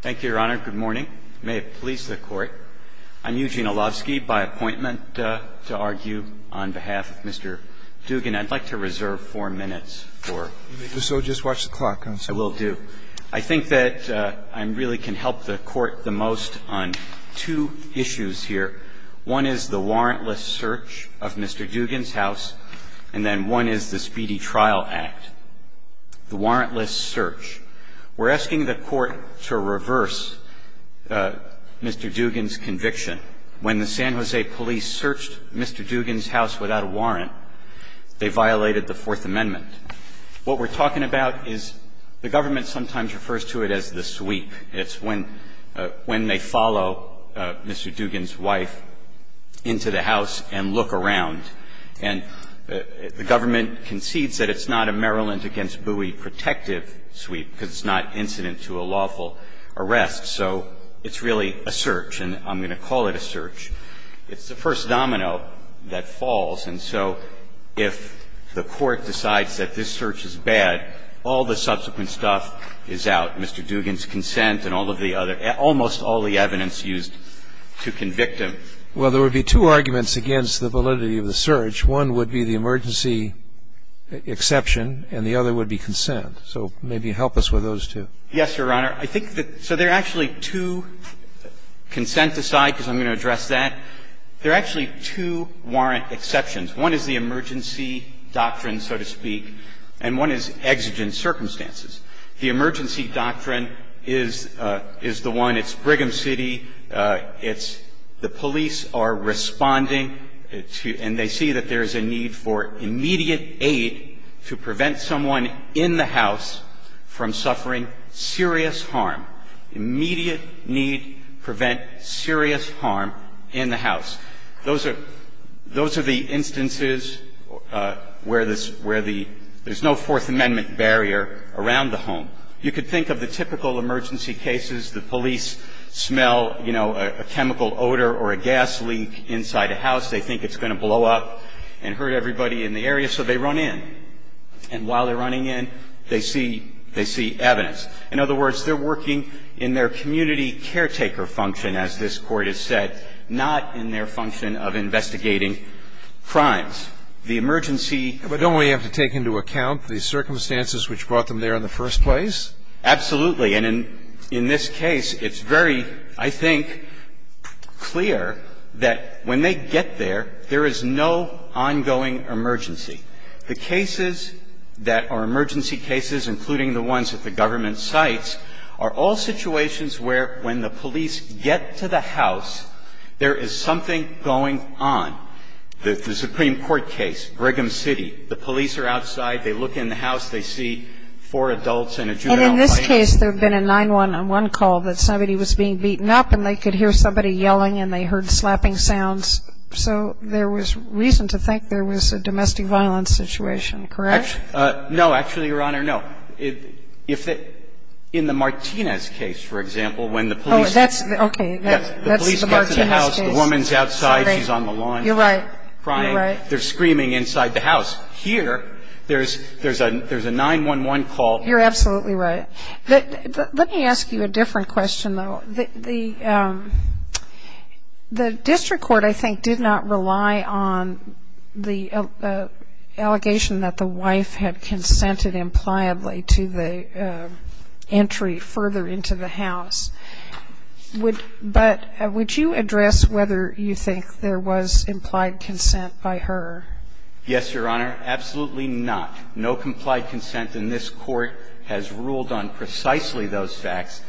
Thank you, Your Honor. Good morning. May it please the Court. I'm Eugene Olavsky, by appointment to argue on behalf of Mr. Dugan. I'd like to reserve four minutes. So just watch the clock. I will do. I think that I really can help the Court the most on two issues here. One is the warrantless search of Mr. Dugan's house, and then one is the speedy trial act. The warrantless search. We're asking the Court to reverse Mr. Dugan's conviction. When the San Jose police searched Mr. Dugan's house without a warrant, they violated the Fourth Amendment. What we're talking about is the government sometimes refers to it as the sweep. It's when they follow Mr. Dugan's wife into the house and look around. And the government concedes that it's not a Maryland against Bowie protective sweep because it's not incident to a lawful arrest. So it's really a search. And I'm going to call it a search. It's the first domino that falls. And so if the Court decides that this search is bad, all the subsequent stuff is out, Mr. Dugan's consent and all of the other almost all the evidence used to convict him. Well, there would be two arguments against the validity of the search. One would be the emergency exception, and the other would be consent. So maybe help us with those two. Yes, Your Honor. I think that so there are actually two, consent aside because I'm going to address that, there are actually two warrant exceptions. One is the emergency doctrine, so to speak, and one is exigent circumstances. The emergency doctrine is the one, it's Brigham City, it's the police are responding and they see that there is a need for immediate aid to prevent someone in the house from suffering serious harm, immediate need to prevent serious harm in the house. Those are the instances where there's no Fourth Amendment barrier around the emergency someone in the house from suffering serious harm in the house, immediate need to prevent serious harm in the home. You could think of the typical emergency cases, the police smell, you know, a chemical odor or a gas leak inside a house. They think it's going to blow up and hurt everybody in the area, so they run in. And while they're running in, they see evidence. In other words, they're working in their community caretaker function, as this Court has said, not in their function of investigating crimes. The emergency. But don't we have to take into account the circumstances which brought them there in the first place? Absolutely. And in this case, it's very, I think, clear that when they get there, there is no ongoing emergency. The cases that are emergency cases, including the ones that the government cites, are all situations where when the police get to the house, there is something going on. The Supreme Court case, Brigham City. The police are outside. They look in the house. They see four adults and a juvenile plaintiff. And in this case, there had been a 911 call that somebody was being beaten up, and they could hear somebody yelling and they heard slapping sounds. So there was reason to think there was a domestic violence situation. Correct? No. Actually, Your Honor, no. In the Martinez case, for example, when the police get to the house, the woman's outside. She's on the lawn. You're right. They're screaming inside the house. Here, there's a 911 call. You're absolutely right. Let me ask you a different question, though. The district court, I think, did not rely on the allegation that the wife had consented impliably to the entry further into the house. But would you address whether you think there was implied consent by her? Yes, Your Honor. Absolutely not. No complied consent in this Court has ruled on precisely those facts.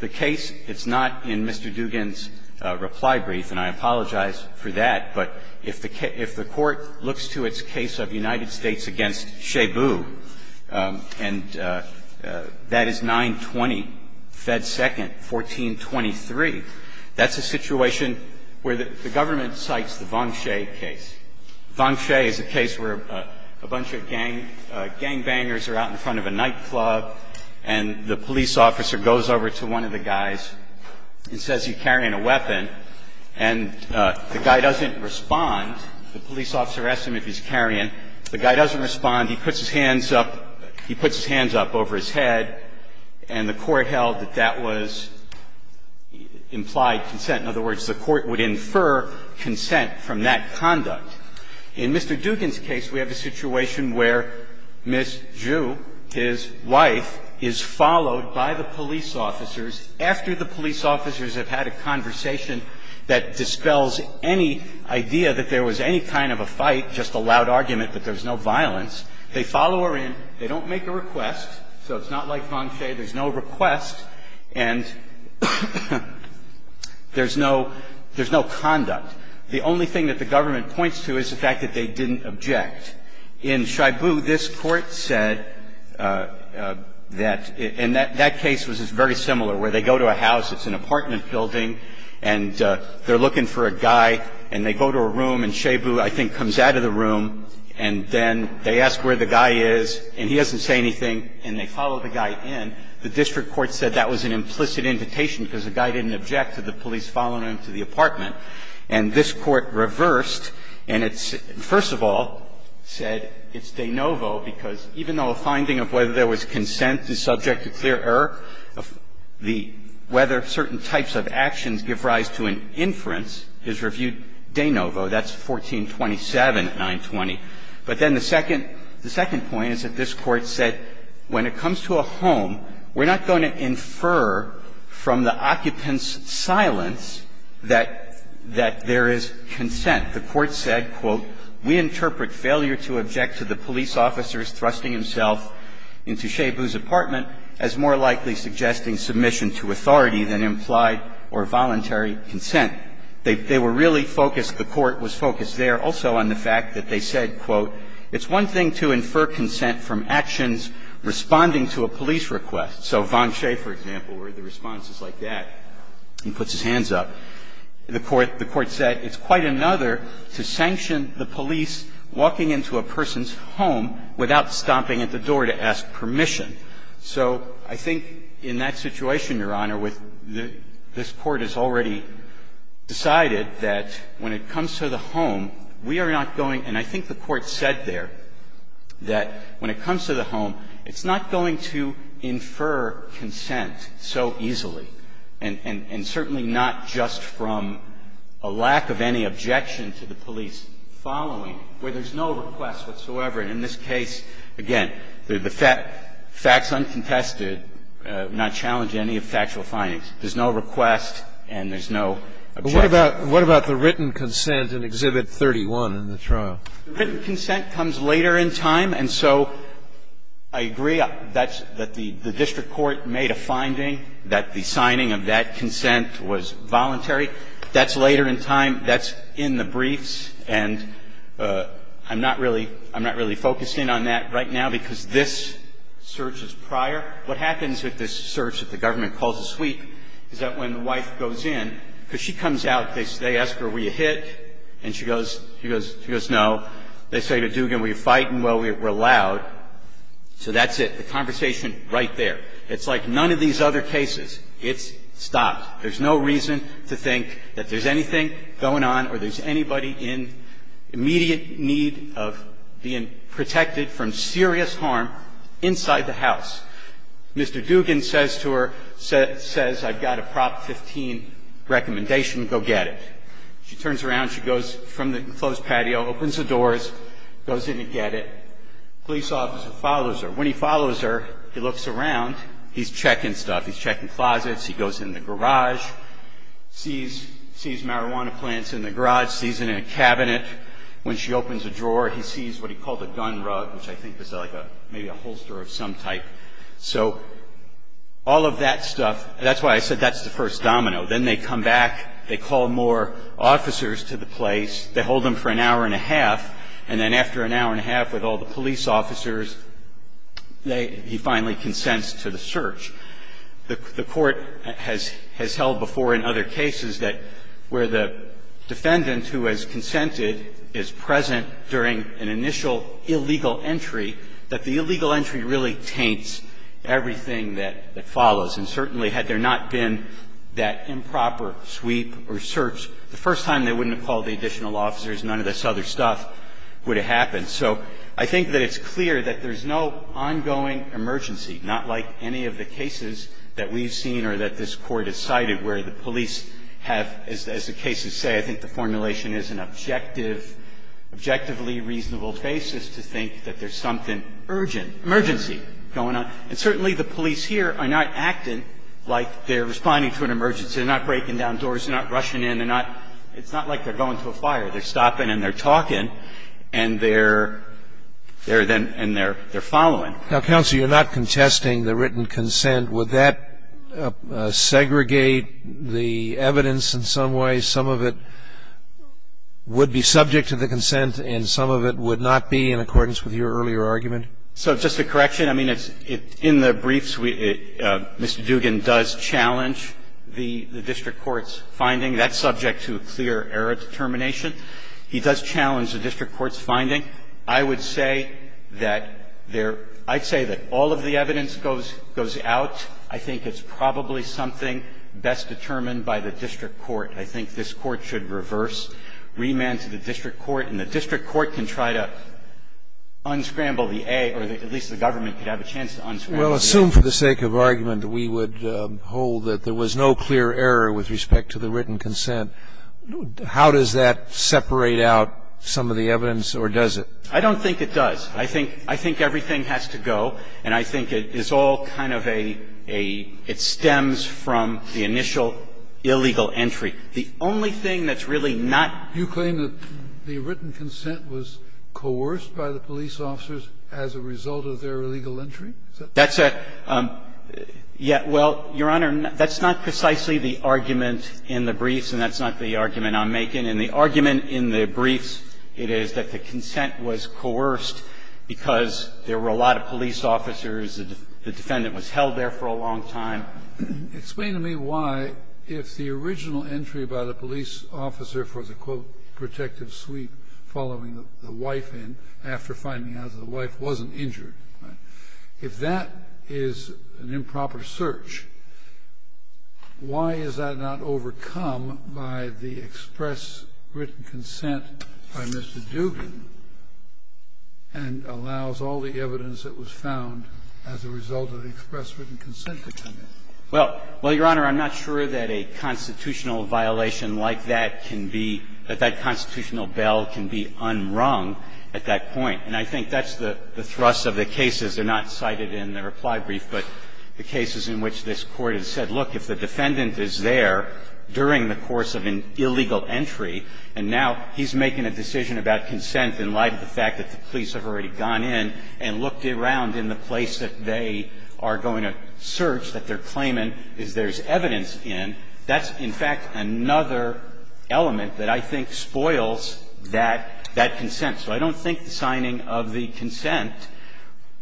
The case, it's not in Mr. Dugan's reply brief, and I apologize for that. But if the court looks to its case of United States against Shebu, and that is 920 Fed 2nd, 1423, that's a situation where the government cites the Vongshe case. Vongshe is a case where a bunch of gangbangers are out in front of a nightclub, and the police officer goes over to one of the guys and says he's carrying a weapon. And the guy doesn't respond. The police officer asks him if he's carrying. The guy doesn't respond. He puts his hands up. He puts his hands up over his head. And the court held that that was implied consent. In other words, the court would infer consent from that conduct. In Mr. Dugan's case, we have a situation where Ms. Zhu, his wife, is followed by the police officers after the police officers have had a conversation that dispels any idea that there was any kind of a fight, just a loud argument, that there was no violence. They follow her in. They don't make a request. So it's not like Vongshe. There's no request and there's no conduct. The only thing that the government points to is the fact that they didn't object. In Shibu, this Court said that that case was very similar, where they go to a house, it's an apartment building, and they're looking for a guy, and they go to a room, and Shibu, I think, comes out of the room, and then they ask where the guy is, and he doesn't say anything, and they follow the guy in. The district court said that was an implicit invitation because the guy didn't object to the police following him to the apartment. And this Court reversed, and it's – first of all, said it's de novo because even though a finding of whether there was consent is subject to clear error, whether certain types of actions give rise to an inference is reviewed de novo. That's 1427, 920. But then the second point is that this Court said when it comes to a home, we're not going to infer from the occupant's silence that there is consent. The Court said, quote, we interpret failure to object to the police officer's thrusting himself into Shibu's apartment as more likely suggesting submission to authority than implied or voluntary consent. They were really focused, the Court was focused there also on the fact that they said, quote, it's one thing to infer consent from actions responding to a police request. So Vonshay, for example, where the response is like that, he puts his hands up. The Court said it's quite another to sanction the police walking into a person's home without stomping at the door to ask permission. So I think in that situation, Your Honor, with the – this Court has already decided that when it comes to the home, we are not going – and I think the Court said there that when it comes to the home, it's not going to infer consent so easily, and certainly not just from a lack of any objection to the police following, where there's no request whatsoever. And in this case, again, the facts uncontested, not challenging any factual findings. There's no request and there's no objection. But what about the written consent in Exhibit 31 in the trial? The written consent comes later in time, and so I agree that the district court made a finding that the signing of that consent was voluntary. That's later in time. That's in the briefs, and I'm not really – I'm not really focusing on that right now, because this search is prior. What happens with this search that the government calls a sweep is that when the wife goes in, because she comes out, they ask her, were you hit? And she goes – she goes, no. They say to Dugan, were you fighting? Well, we're loud. So that's it. The conversation right there. It's like none of these other cases. It's stopped. There's no reason to think that there's anything going on or there's anybody in immediate need of being protected from serious harm inside the house. Mr. Dugan says to her, says, I've got a Prop 15 recommendation, go get it. She turns around. She goes from the enclosed patio, opens the doors, goes in to get it. Police officer follows her. When he follows her, he looks around. He's checking stuff. He's checking closets. He goes in the garage, sees marijuana plants in the garage, sees it in a cabinet. When she opens a drawer, he sees what he called a gun rug, which I think is like maybe a holster of some type. So all of that stuff – that's why I said that's the first domino. Then they come back. They call more officers to the place. They hold them for an hour and a half. And then after an hour and a half with all the police officers, they – he finally consents to the search. The Court has held before in other cases that where the defendant who has consented is present during an initial illegal entry, that the illegal entry really taints everything that follows. And certainly, had there not been that improper sweep or search, the first time they wouldn't have called the additional officers, none of this other stuff would have happened. So I think that it's clear that there's no ongoing emergency, not like any of the cases that we've seen or that this Court has cited, where the police have, as the cases say, I think the formulation is an objective, objectively reasonable basis to think that there's something urgent, emergency going on. And certainly, the police here are not acting like they're responding to an emergency. They're not breaking down doors. They're not rushing in. They're not – it's not like they're going to a fire. They're stopping and they're talking and they're – they're then – and they're following. Now, Counsel, you're not contesting the written consent. Would that segregate the evidence in some way? Some of it would be subject to the consent and some of it would not be in accordance with your earlier argument? So just a correction. I mean, in the briefs, Mr. Duggan does challenge the district court's finding. That's subject to clear error determination. He does challenge the district court's finding. I would say that there – I'd say that all of the evidence goes out. I think it's probably something best determined by the district court. I think this Court should reverse remand to the district court, and the district court can try to unscramble the A, or at least the government could have a chance to unscramble the A. Well, assume for the sake of argument we would hold that there was no clear error with respect to the written consent. How does that separate out some of the evidence, or does it? I don't think it does. I think – I think everything has to go, and I think it's all kind of a – a – it stems from the initial illegal entry. The only thing that's really not – You claim that the written consent was coerced by the police officers as a result of their illegal entry? That's a – yeah. Well, Your Honor, that's not precisely the argument in the briefs, and that's not the argument I'm making. In the argument in the briefs, it is that the consent was coerced because there were a lot of police officers, the defendant was held there for a long time. Explain to me why, if the original entry by the police officer for the, quote, protective sweep following the wife in, after finding out that the wife wasn't injured, if that is an improper search, why is that not overcome by the express written consent by Mr. Dugan and allows all the evidence that was found as a result of the express written consent to come in? Well, Your Honor, I'm not sure that a constitutional violation like that can be – that that constitutional bell can be unrung at that point. And I think that's the thrust of the cases. They're not cited in the reply brief, but the cases in which this Court has said, look, if the defendant is there during the course of an illegal entry, and now he's making a decision about consent in light of the fact that the police have already gone in and looked around in the place that they are going to search that they're claiming is there's evidence in, that's, in fact, another element that I think spoils that – that consent. So I don't think the signing of the consent,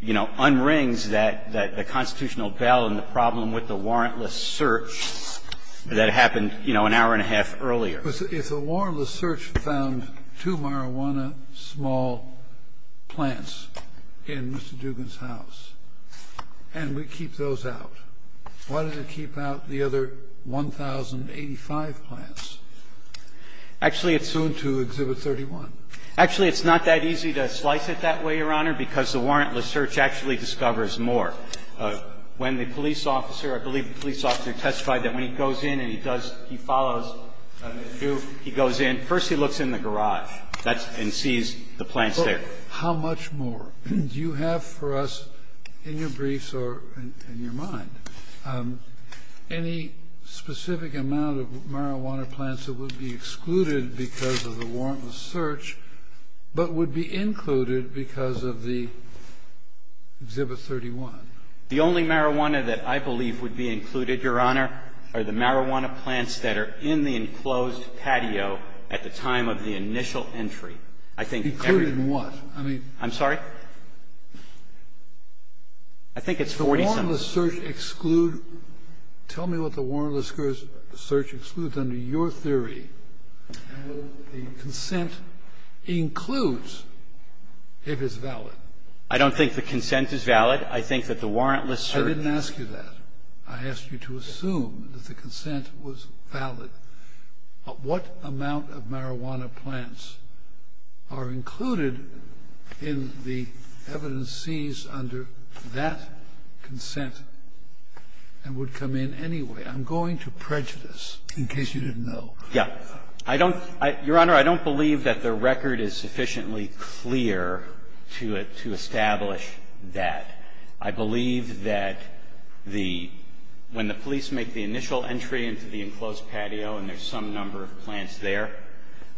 you know, unrings that – that the constitutional bell and the problem with the warrantless search that happened, you know, an hour and a half earlier. If the warrantless search found two marijuana small plants in Mr. Dugan's house and we keep those out, why does it keep out the other 1,085 plants? Actually, it's not that easy to slice it that way, Your Honor, because the warrantless search actually discovers more. When the police officer – I believe the police officer testified that when he goes in and he does – he follows Mr. Dugan, he goes in. First he looks in the garage, that's – and sees the plants there. How much more do you have for us in your briefs or in your mind? Any specific amount of marijuana plants that would be excluded because of the warrantless search, but would be included because of the Exhibit 31? The only marijuana that I believe would be included, Your Honor, are the marijuana plants that are in the enclosed patio at the time of the initial entry. I think every – Included in what? I mean – I'm sorry? I think it's 40-something. The warrantless search exclude – tell me what the warrantless search excludes under your theory, and the consent includes, if it's valid. I don't think the consent is valid. I think that the warrantless search – I didn't ask you that. I asked you to assume that the consent was valid. What amount of marijuana plants are included in the evidence seized under that consent and would come in anyway? I'm going to prejudice, in case you didn't know. Yeah. I don't – Your Honor, I don't believe that the record is sufficiently clear to establish that. I believe that the – when the police make the initial entry into the enclosed patio and there's some number of plants there,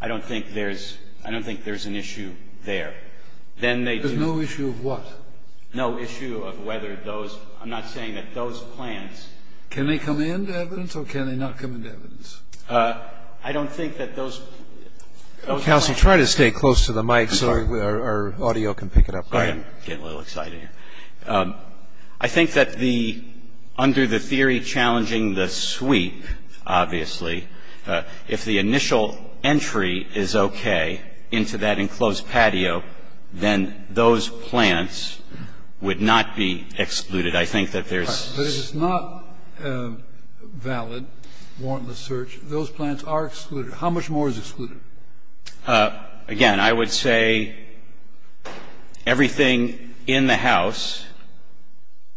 I don't think there's – I don't think there's an issue there. Then they do – There's no issue of what? No issue of whether those – I'm not saying that those plants – Can they come into evidence or can they not come into evidence? I don't think that those – those plants – Go ahead. I'm getting a little excited here. I think that the – under the theory challenging the sweep, obviously, if the initial entry is okay into that enclosed patio, then those plants would not be excluded. I think that there's – But if it's not valid, warrantless search, those plants are excluded. How much more is excluded? Again, I would say everything in the house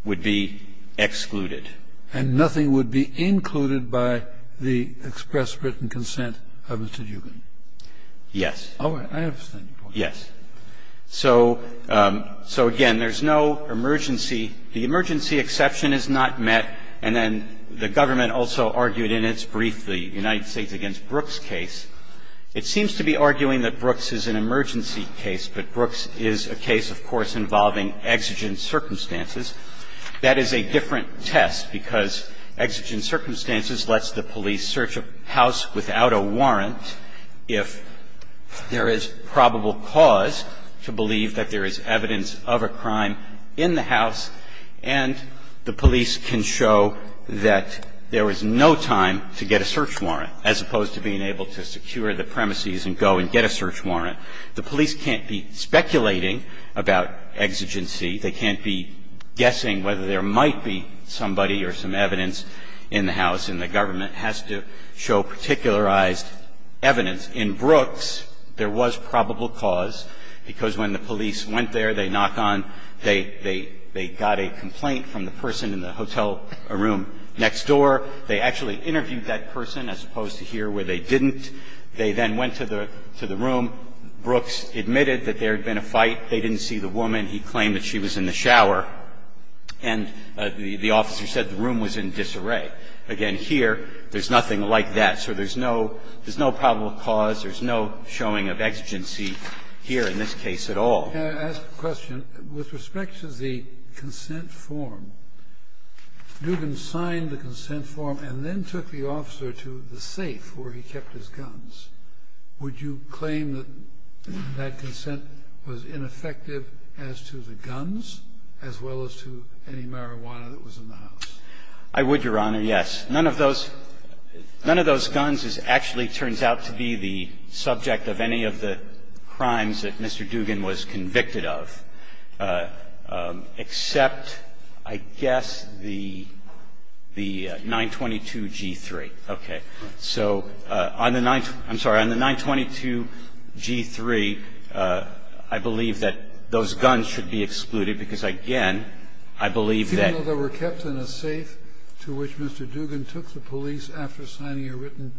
would be excluded. And nothing would be included by the express written consent of Mr. Dugan? Yes. Oh, I understand your point. Yes. So, again, there's no emergency – the emergency exception is not met. And then the government also argued in its brief the United States against It seems to be arguing that Brooks is an emergency case, but Brooks is a case, of course, involving exigent circumstances. That is a different test because exigent circumstances lets the police search a house without a warrant if there is probable cause to believe that there is evidence of a crime in the house and the police can show that there is no time to get a search warrant, as opposed to being able to secure the premises and go and get a search warrant. The police can't be speculating about exigency. They can't be guessing whether there might be somebody or some evidence in the house. And the government has to show particularized evidence. In Brooks, there was probable cause, because when the police went there, they knock on, they got a complaint from the person in the hotel room next door. They actually interviewed that person, as opposed to here, where they didn't. They then went to the room. Brooks admitted that there had been a fight. They didn't see the woman. He claimed that she was in the shower. And the officer said the room was in disarray. Again, here, there's nothing like that. So there's no – there's no probable cause. There's no showing of exigency here in this case at all. Can I ask a question? With respect to the consent form, Dugan signed the consent form and then took the officer to the safe where he kept his guns. Would you claim that that consent was ineffective as to the guns, as well as to any marijuana that was in the house? I would, Your Honor, yes. None of those – none of those guns actually turns out to be the subject of any of the charges that he's convicted of, except, I guess, the 922-G3. Okay. So on the – I'm sorry, on the 922-G3, I believe that those guns should be excluded because, again, I believe that – Even though they were kept in a safe to which Mr. Dugan took the police after signing a written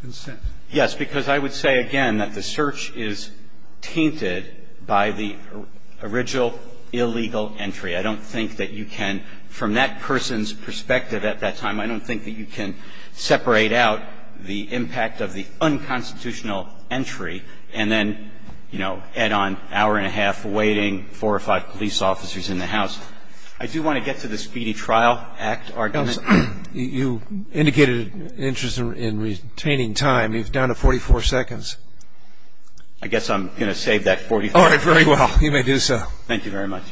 consent? Yes, because I would say, again, that the search is tainted by the original illegal entry. I don't think that you can – from that person's perspective at that time, I don't think that you can separate out the impact of the unconstitutional entry and then, you know, add on hour and a half waiting, four or five police officers in the house. I do want to get to the Speedy Trial Act argument. You indicated an interest in retaining time. You're down to 44 seconds. I guess I'm going to save that 44 seconds. All right, very well. You may do so. Thank you very much.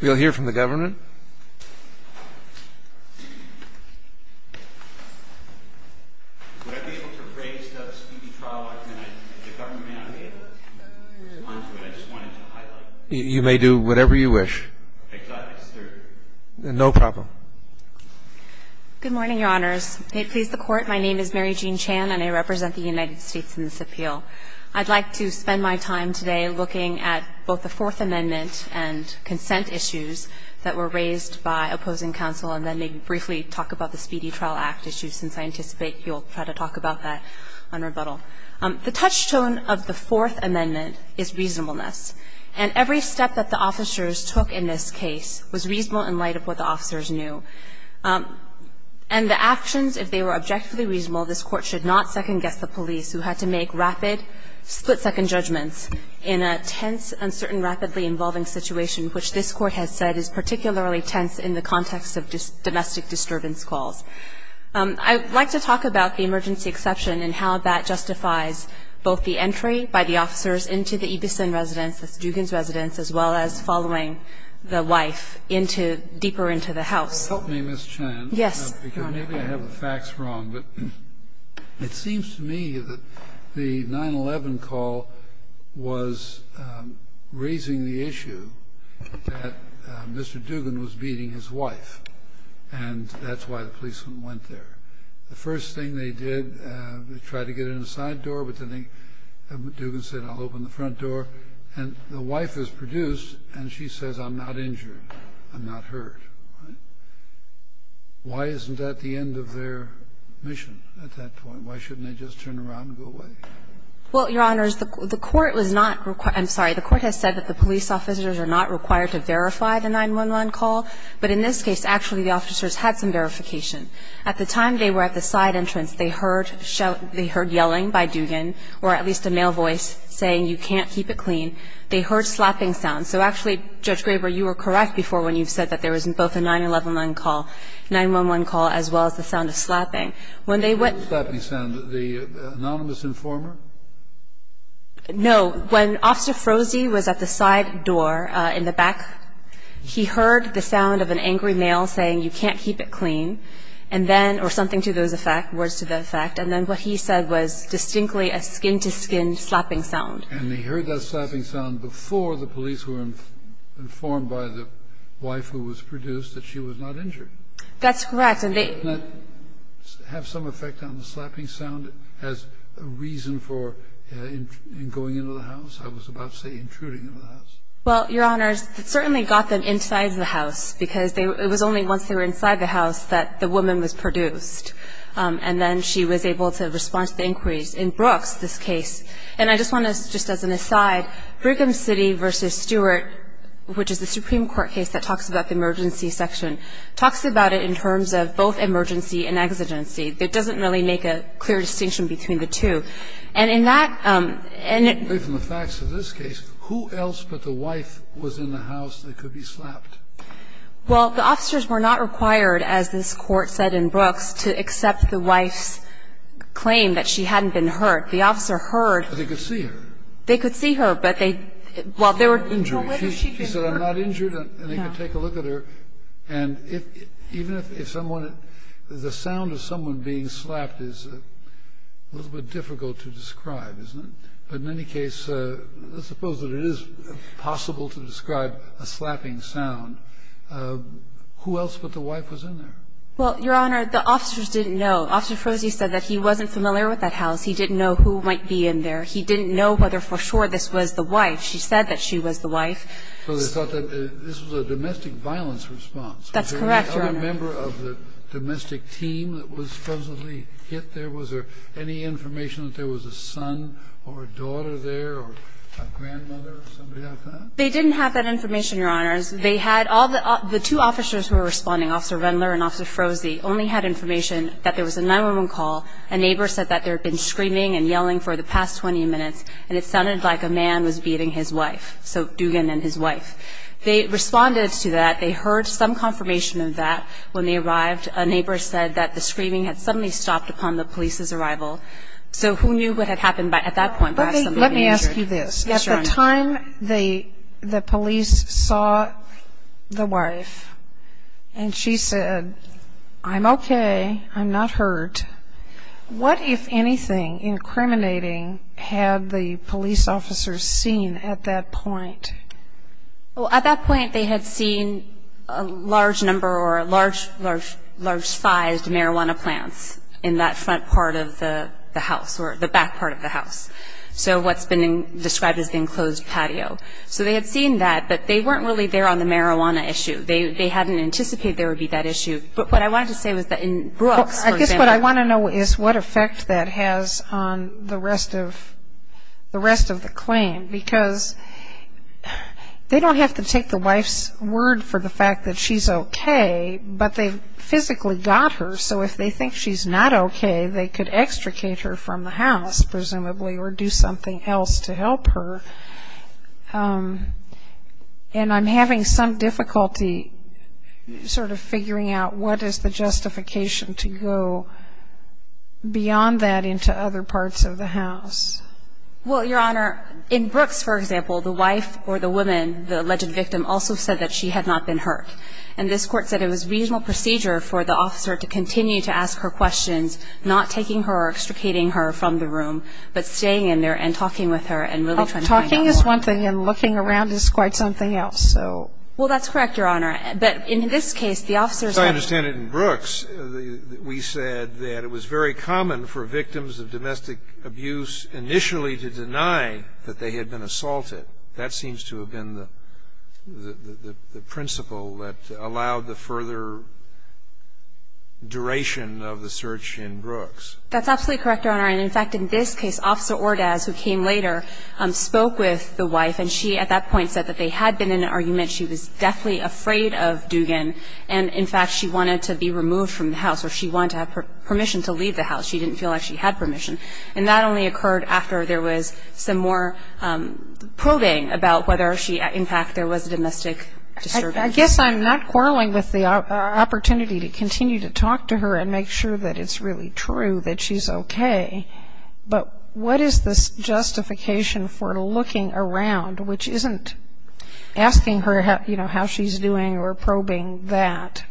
We'll hear from the government. Would I be able to raise the Speedy Trial Act argument? The government may not be able to respond to it. I just wanted to highlight that. You may do whatever you wish. I thought I was third. No problem. Good morning, Your Honors. May it please the Court, my name is Mary Jean Chan and I represent the United States in this appeal. I'd like to spend my time today looking at both the Fourth Amendment and consent issues that were raised by opposing counsel and then maybe briefly talk about the Speedy Trial Act issue since I anticipate you'll try to talk about that on rebuttal. The touchstone of the Fourth Amendment is reasonableness. And every step that the officers took in this case was reasonable in light of what the officers knew. And the actions, if they were objectively reasonable, this Court should not second-guess the police who had to make rapid split-second judgments in a tense, uncertain, rapidly-involving situation, which this Court has said is particularly tense in the context of domestic disturbance calls. I'd like to talk about the emergency exception and how that justifies both the entry by the officers into the Ebison residence, the Stugans residence, as well as Help me, Ms. Chan Yes, Your Honor Maybe I have the facts wrong, but it seems to me that the nine-eleven call was raising the issue that Mr. Duggan was beating his wife, and that's why the policeman went there. The first thing they did, they tried to get in the side door, but then second Duggan said, I'll open the front door, and the wife is produced, and she says, I'm not injured. I'm not hurt. Why isn't that the end of their mission at that point? Why shouldn't they just turn around and go away? Well, Your Honors, the court was not required I'm sorry, the court has said that the police officers are not required to verify the nine-one-one call, but in this case, actually, the officers had some verification. At the time they were at the side entrance, they heard yelling by Duggan, or at least a male voice saying, you can't keep it clean. They heard slapping sounds. So actually, Judge Graber, you were correct before when you said there was both a nine-one-one call, a nine-one-one call, as well as the sound of slapping. When they went to the side door, he heard the sound of an angry male saying, you can't keep it clean, and then, or something to those effect, words to the effect, and then what he said was distinctly a skin-to-skin slapping sound. And they heard that slapping sound before the police were informed by the wife who was produced that she was not injured? That's correct. And they Didn't that have some effect on the slapping sound as a reason for going into the house? I was about to say intruding into the house. Well, Your Honors, it certainly got them inside the house, because it was only once they were inside the house that the woman was produced, and then she was able to respond to the inquiries. In the case of Brigham City v. Stewart, which is the Supreme Court case that talks about the emergency section, talks about it in terms of both emergency and exigency. It doesn't really make a clear distinction between the two. And in that, and it Apart from the facts of this case, who else but the wife was in the house that could be slapped? Well, the officers were not required, as this Court said in Brooks, to accept the wife's claim that she hadn't been hurt. The officer heard That they could see her. They could see her, but they, well, they were She said, I'm not injured, and they could take a look at her. And even if someone, the sound of someone being slapped is a little bit difficult to describe, isn't it? But in any case, let's suppose that it is possible to describe a slapping sound. Who else but the wife was in there? Well, Your Honor, the officers didn't know. Officer Froese said that he wasn't familiar with that house. He didn't know who might be in there. He didn't know whether for sure this was the wife. She said that she was the wife. So they thought that this was a domestic violence response. That's correct, Your Honor. Was there any other member of the domestic team that was supposedly hit there? Was there any information that there was a son or a daughter there or a grandmother or somebody like that? They didn't have that information, Your Honors. They had all the two officers who were responding, Officer Rendler and Officer Froese, only had information that there was a 911 call. A neighbor said that there had been screaming and yelling for the past 20 minutes, and it sounded like a man was beating his wife, so Dugan and his wife. They responded to that. They heard some confirmation of that when they arrived. A neighbor said that the screaming had suddenly stopped upon the police's arrival. So who knew what had happened at that point? But let me ask you this. At the time the police saw the wife and she said, I'm okay, I'm not hurt, what, if anything, incriminating had the police officers seen at that point? Well, at that point, they had seen a large number or large-sized marijuana plants in that front part of the house or the back part of the house. So what's been described as the enclosed patio. So they had seen that, but they weren't really there on the marijuana issue. They hadn't anticipated there would be that issue. But what I wanted to say was that in Brooks, for example. I guess what I want to know is what effect that has on the rest of the claim, because they don't have to take the wife's word for the fact that she's okay, but they physically got her. So if they think she's not okay, they could extricate her from the house, presumably, or do something else to help her. And I'm having some difficulty sort of figuring out what is the justification to go beyond that into other parts of the house. Well, Your Honor, in Brooks, for example, the wife or the woman, the alleged victim, also said that she had not been hurt. And this court said it was reasonable procedure for the officer to continue to ask her questions, not taking her or extricating her from the room, but staying in there and talking with her and really trying to find out more. Well, talking is one thing, and looking around is quite something else, so. Well, that's correct, Your Honor. But in this case, the officer said- As I understand it, in Brooks, we said that it was very common for victims of domestic abuse initially to deny that they had been assaulted. That seems to have been the principle that allowed the further duration of the search in Brooks. That's absolutely correct, Your Honor. And, in fact, in this case, Officer Ordaz, who came later, spoke with the wife, and she, at that point, said that they had been in an argument, she was deathly afraid of Dugan, and, in fact, she wanted to be removed from the house or she wanted to have permission to leave the house. She didn't feel like she had permission. And that only occurred after there was some more probing about whether she, in fact, there was a domestic disturbance. I guess I'm not quarreling with the opportunity to continue to talk to her and make sure that it's really true that she's okay. But what is this justification for looking around, which isn't asking her how she's doing or probing that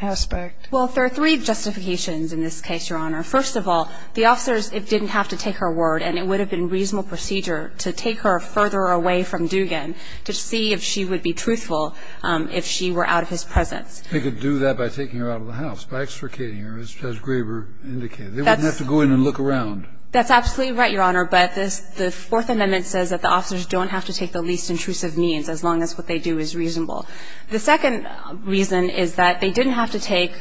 aspect? Well, there are three justifications in this case, Your Honor. First of all, the officers didn't have to take her word, and it would have been reasonable procedure to take her further away from Dugan to see if she would be truthful if she were out of his presence. They could do that by taking her out of the house, by extricating her, as Graber indicated. They wouldn't have to go in and look around. That's absolutely right, Your Honor. But the Fourth Amendment says that the officers don't have to take the least intrusive means, as long as what they do is reasonable. The second reason is that they didn't have to take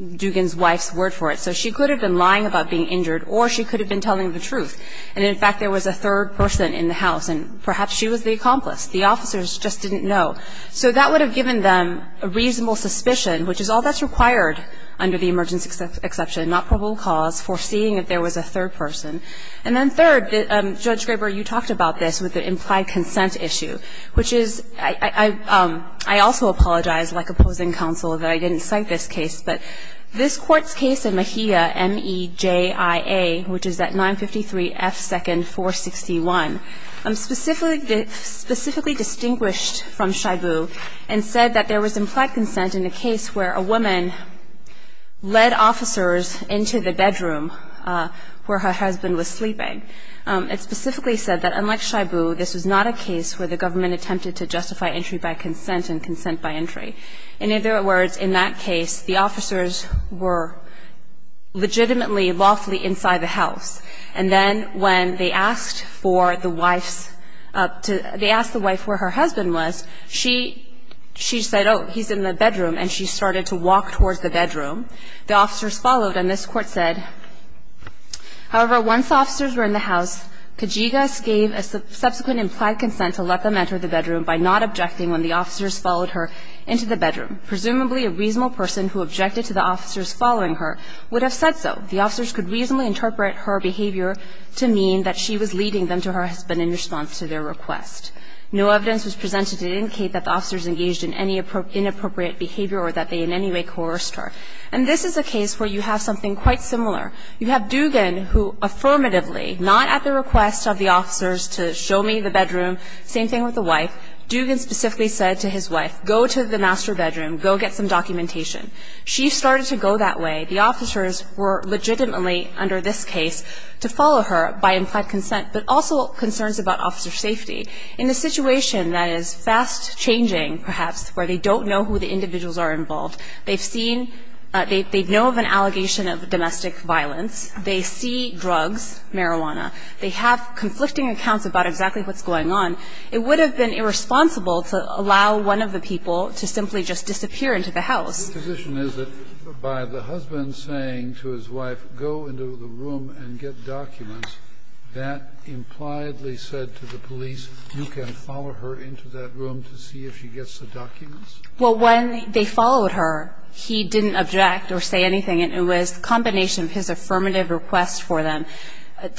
Dugan's wife's word for it. So she could have been lying about being injured, or she could have been telling the truth. And, in fact, there was a third person in the house, and perhaps she was the accomplice. The officers just didn't know. So that would have given them a reasonable suspicion, which is all that's required under the emergency exception, not probable cause, foreseeing if there was a third person. And then third, Judge Graber, you talked about this with the implied consent issue, which is – I also apologize, like opposing counsel, that I didn't cite this case, but this Court's case in Mejia, M-E-J-I-A, which is at 953 F. 2nd, 461. It specifically distinguished from Shibu and said that there was implied consent in a case where a woman led officers into the bedroom where her husband was sleeping. It specifically said that, unlike Shibu, this was not a case where the government attempted to justify entry by consent and consent by entry. In other words, in that case, the officers were legitimately lawfully inside the And so when they asked the wife where her husband was, she said, oh, he's in the bedroom. And she started to walk towards the bedroom. The officers followed, and this Court said, However, once officers were in the house, Kajigas gave a subsequent implied consent to let them enter the bedroom by not objecting when the officers followed her into the bedroom. Presumably, a reasonable person who objected to the officers following her would have said so. The officers could reasonably interpret her behavior to mean that she was leading them to her husband in response to their request. No evidence was presented to indicate that the officers engaged in any inappropriate behavior or that they in any way coerced her. And this is a case where you have something quite similar. You have Dugan who affirmatively, not at the request of the officers to show me the bedroom, same thing with the wife, Dugan specifically said to his wife, go to the master bedroom, go get some documentation. She started to go that way. The officers were legitimately, under this case, to follow her by implied consent, but also concerns about officer safety. In a situation that is fast-changing, perhaps, where they don't know who the individuals are involved, they've seen they know of an allegation of domestic violence, they see drugs, marijuana, they have conflicting accounts about exactly what's going on, it would have been irresponsible to allow one of the people to simply just disappear into the house. Kennedy, Your position is that by the husband saying to his wife, go into the room and get documents, that impliedly said to the police, you can follow her into that room to see if she gets the documents? Well, when they followed her, he didn't object or say anything. It was a combination of his affirmative request for them,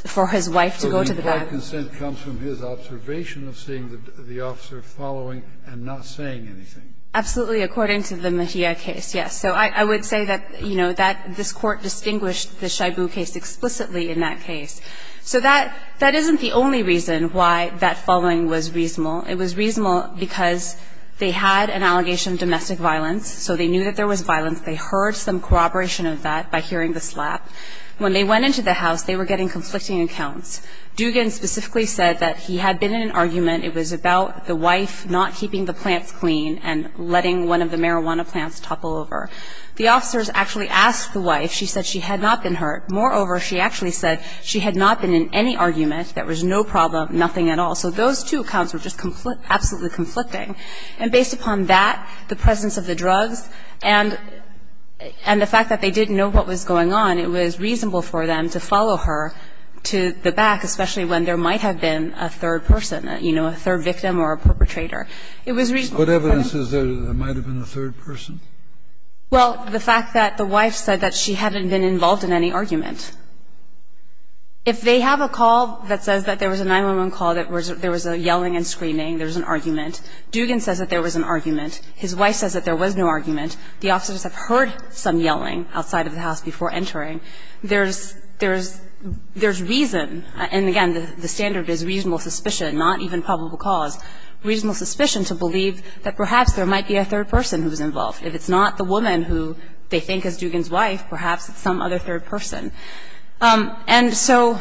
for his wife to go to the bathroom. So the implied consent comes from his observation of seeing the officer following and not saying anything. Absolutely, according to the Mejia case, yes. So I would say that, you know, that this Court distinguished the Shibu case explicitly in that case. So that isn't the only reason why that following was reasonable. It was reasonable because they had an allegation of domestic violence, so they knew that there was violence. They heard some corroboration of that by hearing the slap. When they went into the house, they were getting conflicting accounts. Dugan specifically said that he had been in an argument, it was about the wife not keeping the plants clean and letting one of the marijuana plants topple over. The officers actually asked the wife. She said she had not been hurt. Moreover, she actually said she had not been in any argument. There was no problem, nothing at all. So those two accounts were just absolutely conflicting. And based upon that, the presence of the drugs, and the fact that they didn't know what was going on, it was reasonable for them to follow her to the back, especially when there might have been a third person, you know, a third victim or a perpetrator. It was reasonable. Kennedy, what evidence is there that there might have been a third person? Well, the fact that the wife said that she hadn't been involved in any argument. If they have a call that says that there was a 911 call, that there was a yelling and screaming, there was an argument. Dugan says that there was an argument. His wife says that there was no argument. The officers have heard some yelling outside of the house before entering. There's reason, and again, the standard is reasonable suspicion, not even probable cause. Reasonable suspicion to believe that perhaps there might be a third person who was involved, that it's not the woman who they think is Dugan's wife, perhaps it's some other third person. And so,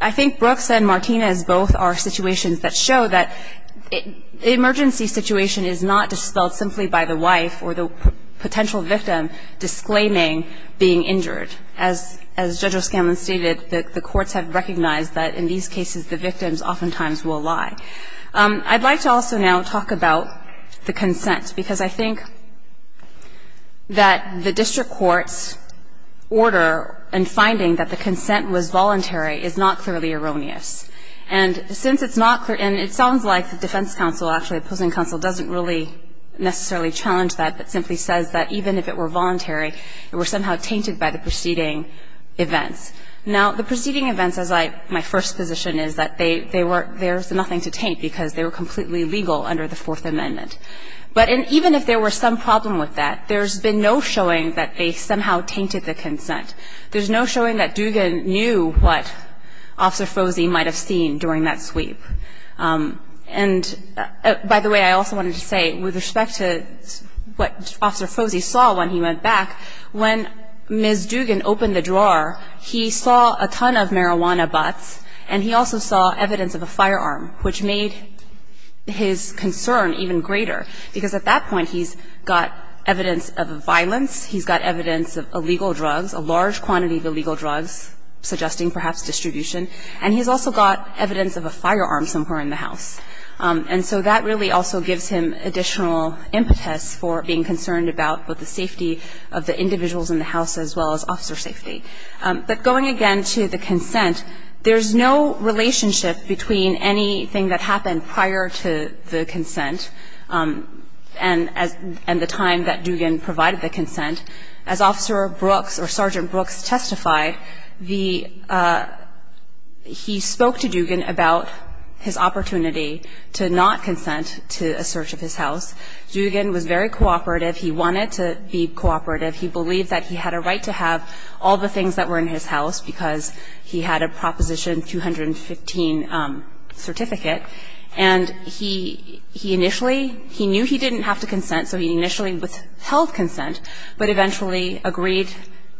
I think Brooks and Martinez both are situations that show that the emergency situation is not dispelled simply by the wife or the potential victim disclaiming being injured. As Judge O'Scanlan stated, the courts have recognized that in these cases, the victims oftentimes will lie. I'd like to also now talk about the consent, because I think that the district courts' order in finding that the consent was voluntary is not clearly erroneous. And since it's not clear, and it sounds like the defense counsel, actually the opposing counsel, doesn't really necessarily challenge that, but simply says that even if it were voluntary, it were somehow tainted by the preceding events. Now, the preceding events, as my first position is, that there's nothing to taint because they were completely legal under the Fourth Amendment. But even if there were some problem with that, there's been no showing that they somehow tainted the consent. There's no showing that Dugan knew what Officer Froese might have seen during that sweep. And, by the way, I also wanted to say, with respect to what Officer Froese saw when he went back, when Ms. Dugan opened the drawer, he saw a ton of marijuana butts, and he also saw evidence of a firearm, which made his concern even greater. Because at that point, he's got evidence of violence, he's got evidence of illegal drugs, a large quantity of illegal drugs, suggesting perhaps distribution, and he's also got evidence of a firearm somewhere in the house. And so that really also gives him additional impetus for being concerned about both the safety of the individuals in the house as well as officer safety. But going again to the consent, there's no relationship between anything that happened prior to the consent and the time that Dugan provided the consent. As Officer Brooks, or Sergeant Brooks, testified, he spoke to Dugan about his opportunity to not consent to a search of his house. Dugan was very cooperative. He wanted to be cooperative. He believed that he had a right to have all the things that were in his house because he had a Proposition 215 certificate. And he initially, he knew he didn't have to consent, so he initially withheld consent, but eventually agreed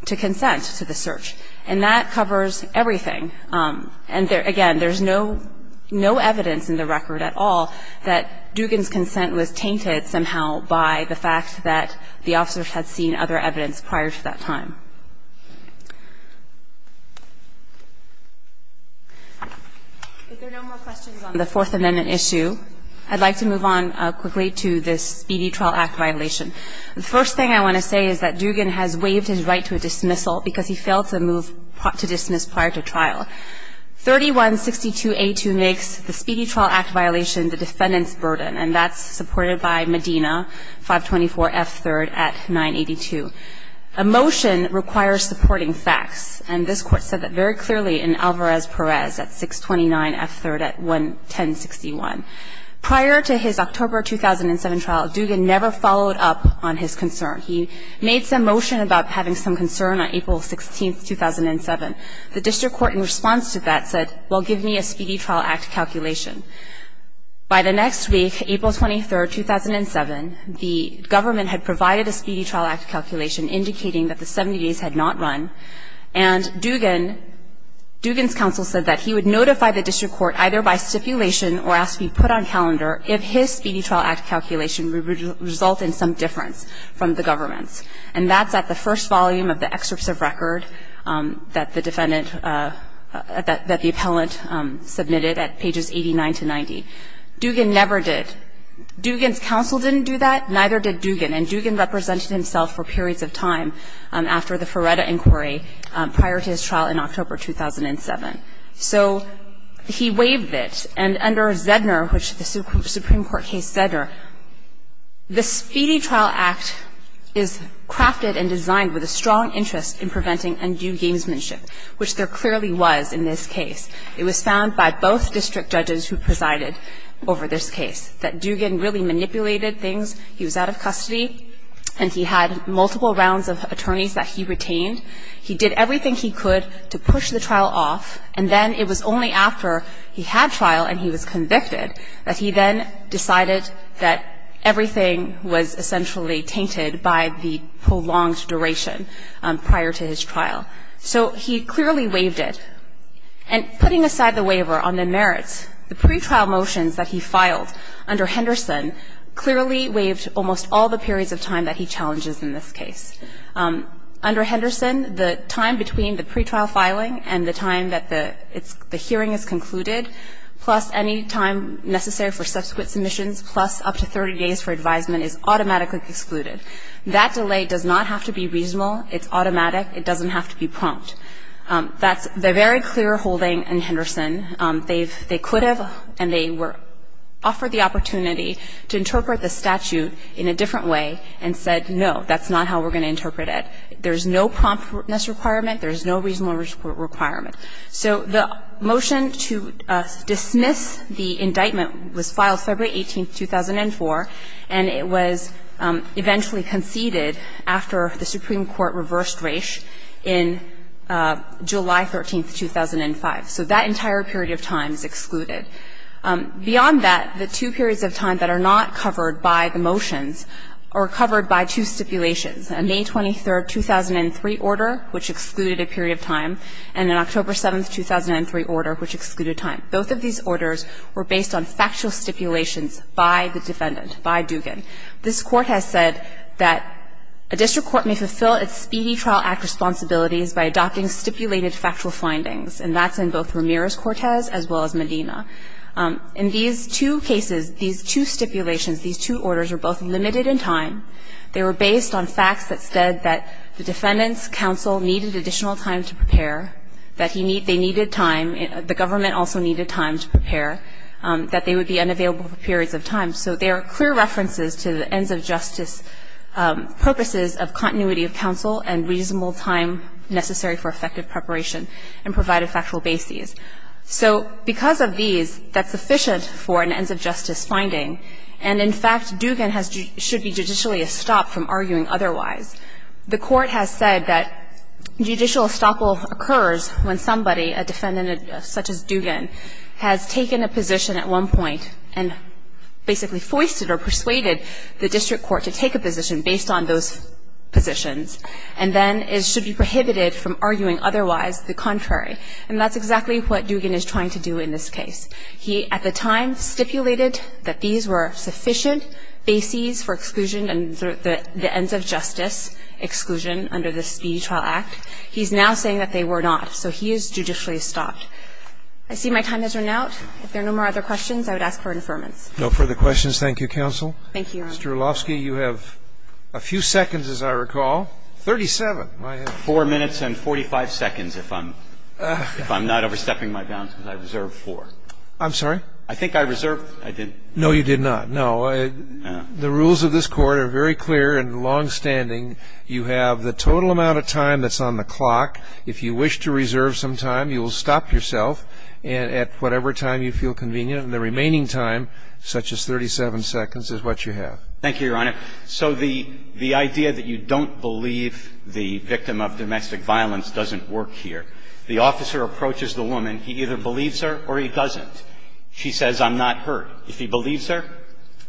to consent to the search. And that covers everything. And again, there's no evidence in the record at all that Dugan's consent was that the officers had seen other evidence prior to that time. If there are no more questions on the Fourth Amendment issue, I'd like to move on quickly to this Speedy Trial Act violation. The first thing I want to say is that Dugan has waived his right to a dismissal because he failed to move to dismiss prior to trial. 3162A2 makes the Speedy Trial Act violation the defendant's burden, and that's supported by Medina, 524F3 at 982. A motion requires supporting facts, and this Court said that very clearly in Alvarez-Perez at 629F3 at 1061. Prior to his October 2007 trial, Dugan never followed up on his concern. He made some motion about having some concern on April 16, 2007. The district court in response to that said, well, give me a Speedy Trial Act calculation. By the next week, April 23, 2007, the government had provided a Speedy Trial Act calculation indicating that the 70 days had not run, and Dugan's counsel said that he would notify the district court either by stipulation or ask to be put on calendar if his Speedy Trial Act calculation would result in some difference from the government's. And that's at the first volume of the excerpts of record that the defendant – that the appellant submitted at pages 89 to 90. Dugan never did. Dugan's counsel didn't do that. Neither did Dugan. And Dugan represented himself for periods of time after the Feretta inquiry prior to his trial in October 2007. So he waived it. And under Zedner, which the Supreme Court case Zedner, the Speedy Trial Act is crafted and designed with a strong interest in preventing undue gamesmanship, which there clearly was in this case. It was found by both district judges who presided over this case that Dugan really manipulated things. He was out of custody, and he had multiple rounds of attorneys that he retained. He did everything he could to push the trial off, and then it was only after he had trial and he was convicted that he then decided that everything was essentially tainted by the prolonged duration prior to his trial. So he clearly waived it. And putting aside the waiver on the merits, the pretrial motions that he filed under Henderson clearly waived almost all the periods of time that he challenges in this case. Under Henderson, the time between the pretrial filing and the time that the hearing is concluded, plus any time necessary for subsequent submissions, plus up to 30 days for advisement, is automatically excluded. That delay does not have to be reasonable. It's automatic. It doesn't have to be prompt. That's the very clear holding in Henderson. They've – they could have, and they were – offered the opportunity to interpret the statute in a different way and said, no, that's not how we're going to interpret There's no promptness requirement. There's no reasonable requirement. So the motion to dismiss the indictment was filed February 18, 2004, and it was eventually conceded after the Supreme Court reversed Raich in July 13, 2005. So that entire period of time is excluded. Beyond that, the two periods of time that are not covered by the motions are covered by two stipulations, a May 23, 2003 order, which excluded a period of time, and an October 7, 2003 order, which excluded time. Both of these orders were based on factual stipulations by the defendant, by Dugan. This Court has said that a district court may fulfill its Speedy Trial Act responsibilities by adopting stipulated factual findings, and that's in both Ramirez-Cortez as well as Medina. In these two cases, these two stipulations, these two orders are both limited in time. They were based on facts that said that the defendants' counsel needed additional time to prepare, that they needed time, the government also needed time to prepare, that they would be unavailable for periods of time. So there are clear references to the ends-of-justice purposes of continuity of counsel and reasonable time necessary for effective preparation, and provided factual bases. So because of these, that's sufficient for an ends-of-justice finding. And in fact, Dugan should be judicially stopped from arguing otherwise. The Court has said that judicial estoppel occurs when somebody, a defendant such as Dugan, has taken a position at one point and basically foisted or persuaded the district court to take a position based on those positions. And then it should be prohibited from arguing otherwise the contrary. And that's exactly what Dugan is trying to do in this case. He at the time stipulated that these were sufficient bases for exclusion and the court has now said that they were not. So he is judicially stopped. I see my time has run out. If there are no more other questions, I would ask for affirmance. Roberts. No further questions. Thank you, counsel. Mr. Olovsky, you have a few seconds, as I recall. 37. I have 4 minutes and 45 seconds if I'm not overstepping my bounds, because I reserved 4. I'm sorry? I think I reserved. I didn't. No, you did not. No. The rules of this Court are very clear and longstanding. You have the total amount of time that's on the clock. If you wish to reserve some time, you will stop yourself at whatever time you feel convenient, and the remaining time, such as 37 seconds, is what you have. Thank you, Your Honor. So the idea that you don't believe the victim of domestic violence doesn't work here. The officer approaches the woman. He either believes her or he doesn't. She says, I'm not hurt. If he believes her,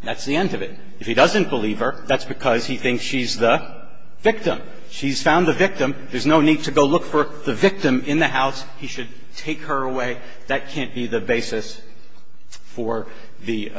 that's the end of it. If he doesn't believe her, that's because he thinks she's the victim. She's found the victim. There's no need to go look for the victim in the house. He should take her away. That can't be the basis for the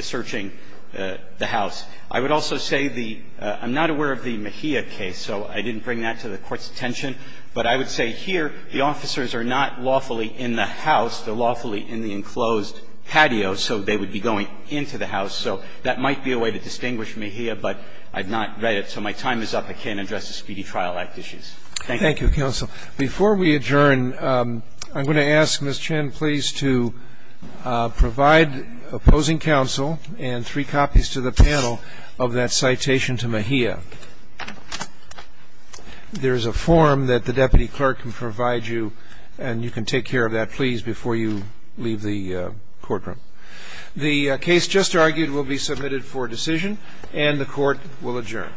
searching the house. I would also say the – I'm not aware of the Mejia case, so I didn't bring that to the Court's attention. But I would say here the officers are not lawfully in the house. They're lawfully in the enclosed patio. So they would be going into the house. So that might be a way to distinguish Mejia, but I've not read it. So my time is up. I can't address the Speedy Trial Act issues. Thank you. Thank you, counsel. Before we adjourn, I'm going to ask Ms. Chen, please, to provide opposing counsel and three copies to the panel of that citation to Mejia. There's a form that the deputy clerk can provide you, and you can take care of that, please, before you leave the courtroom. The case just argued will be submitted for decision, and the Court will adjourn.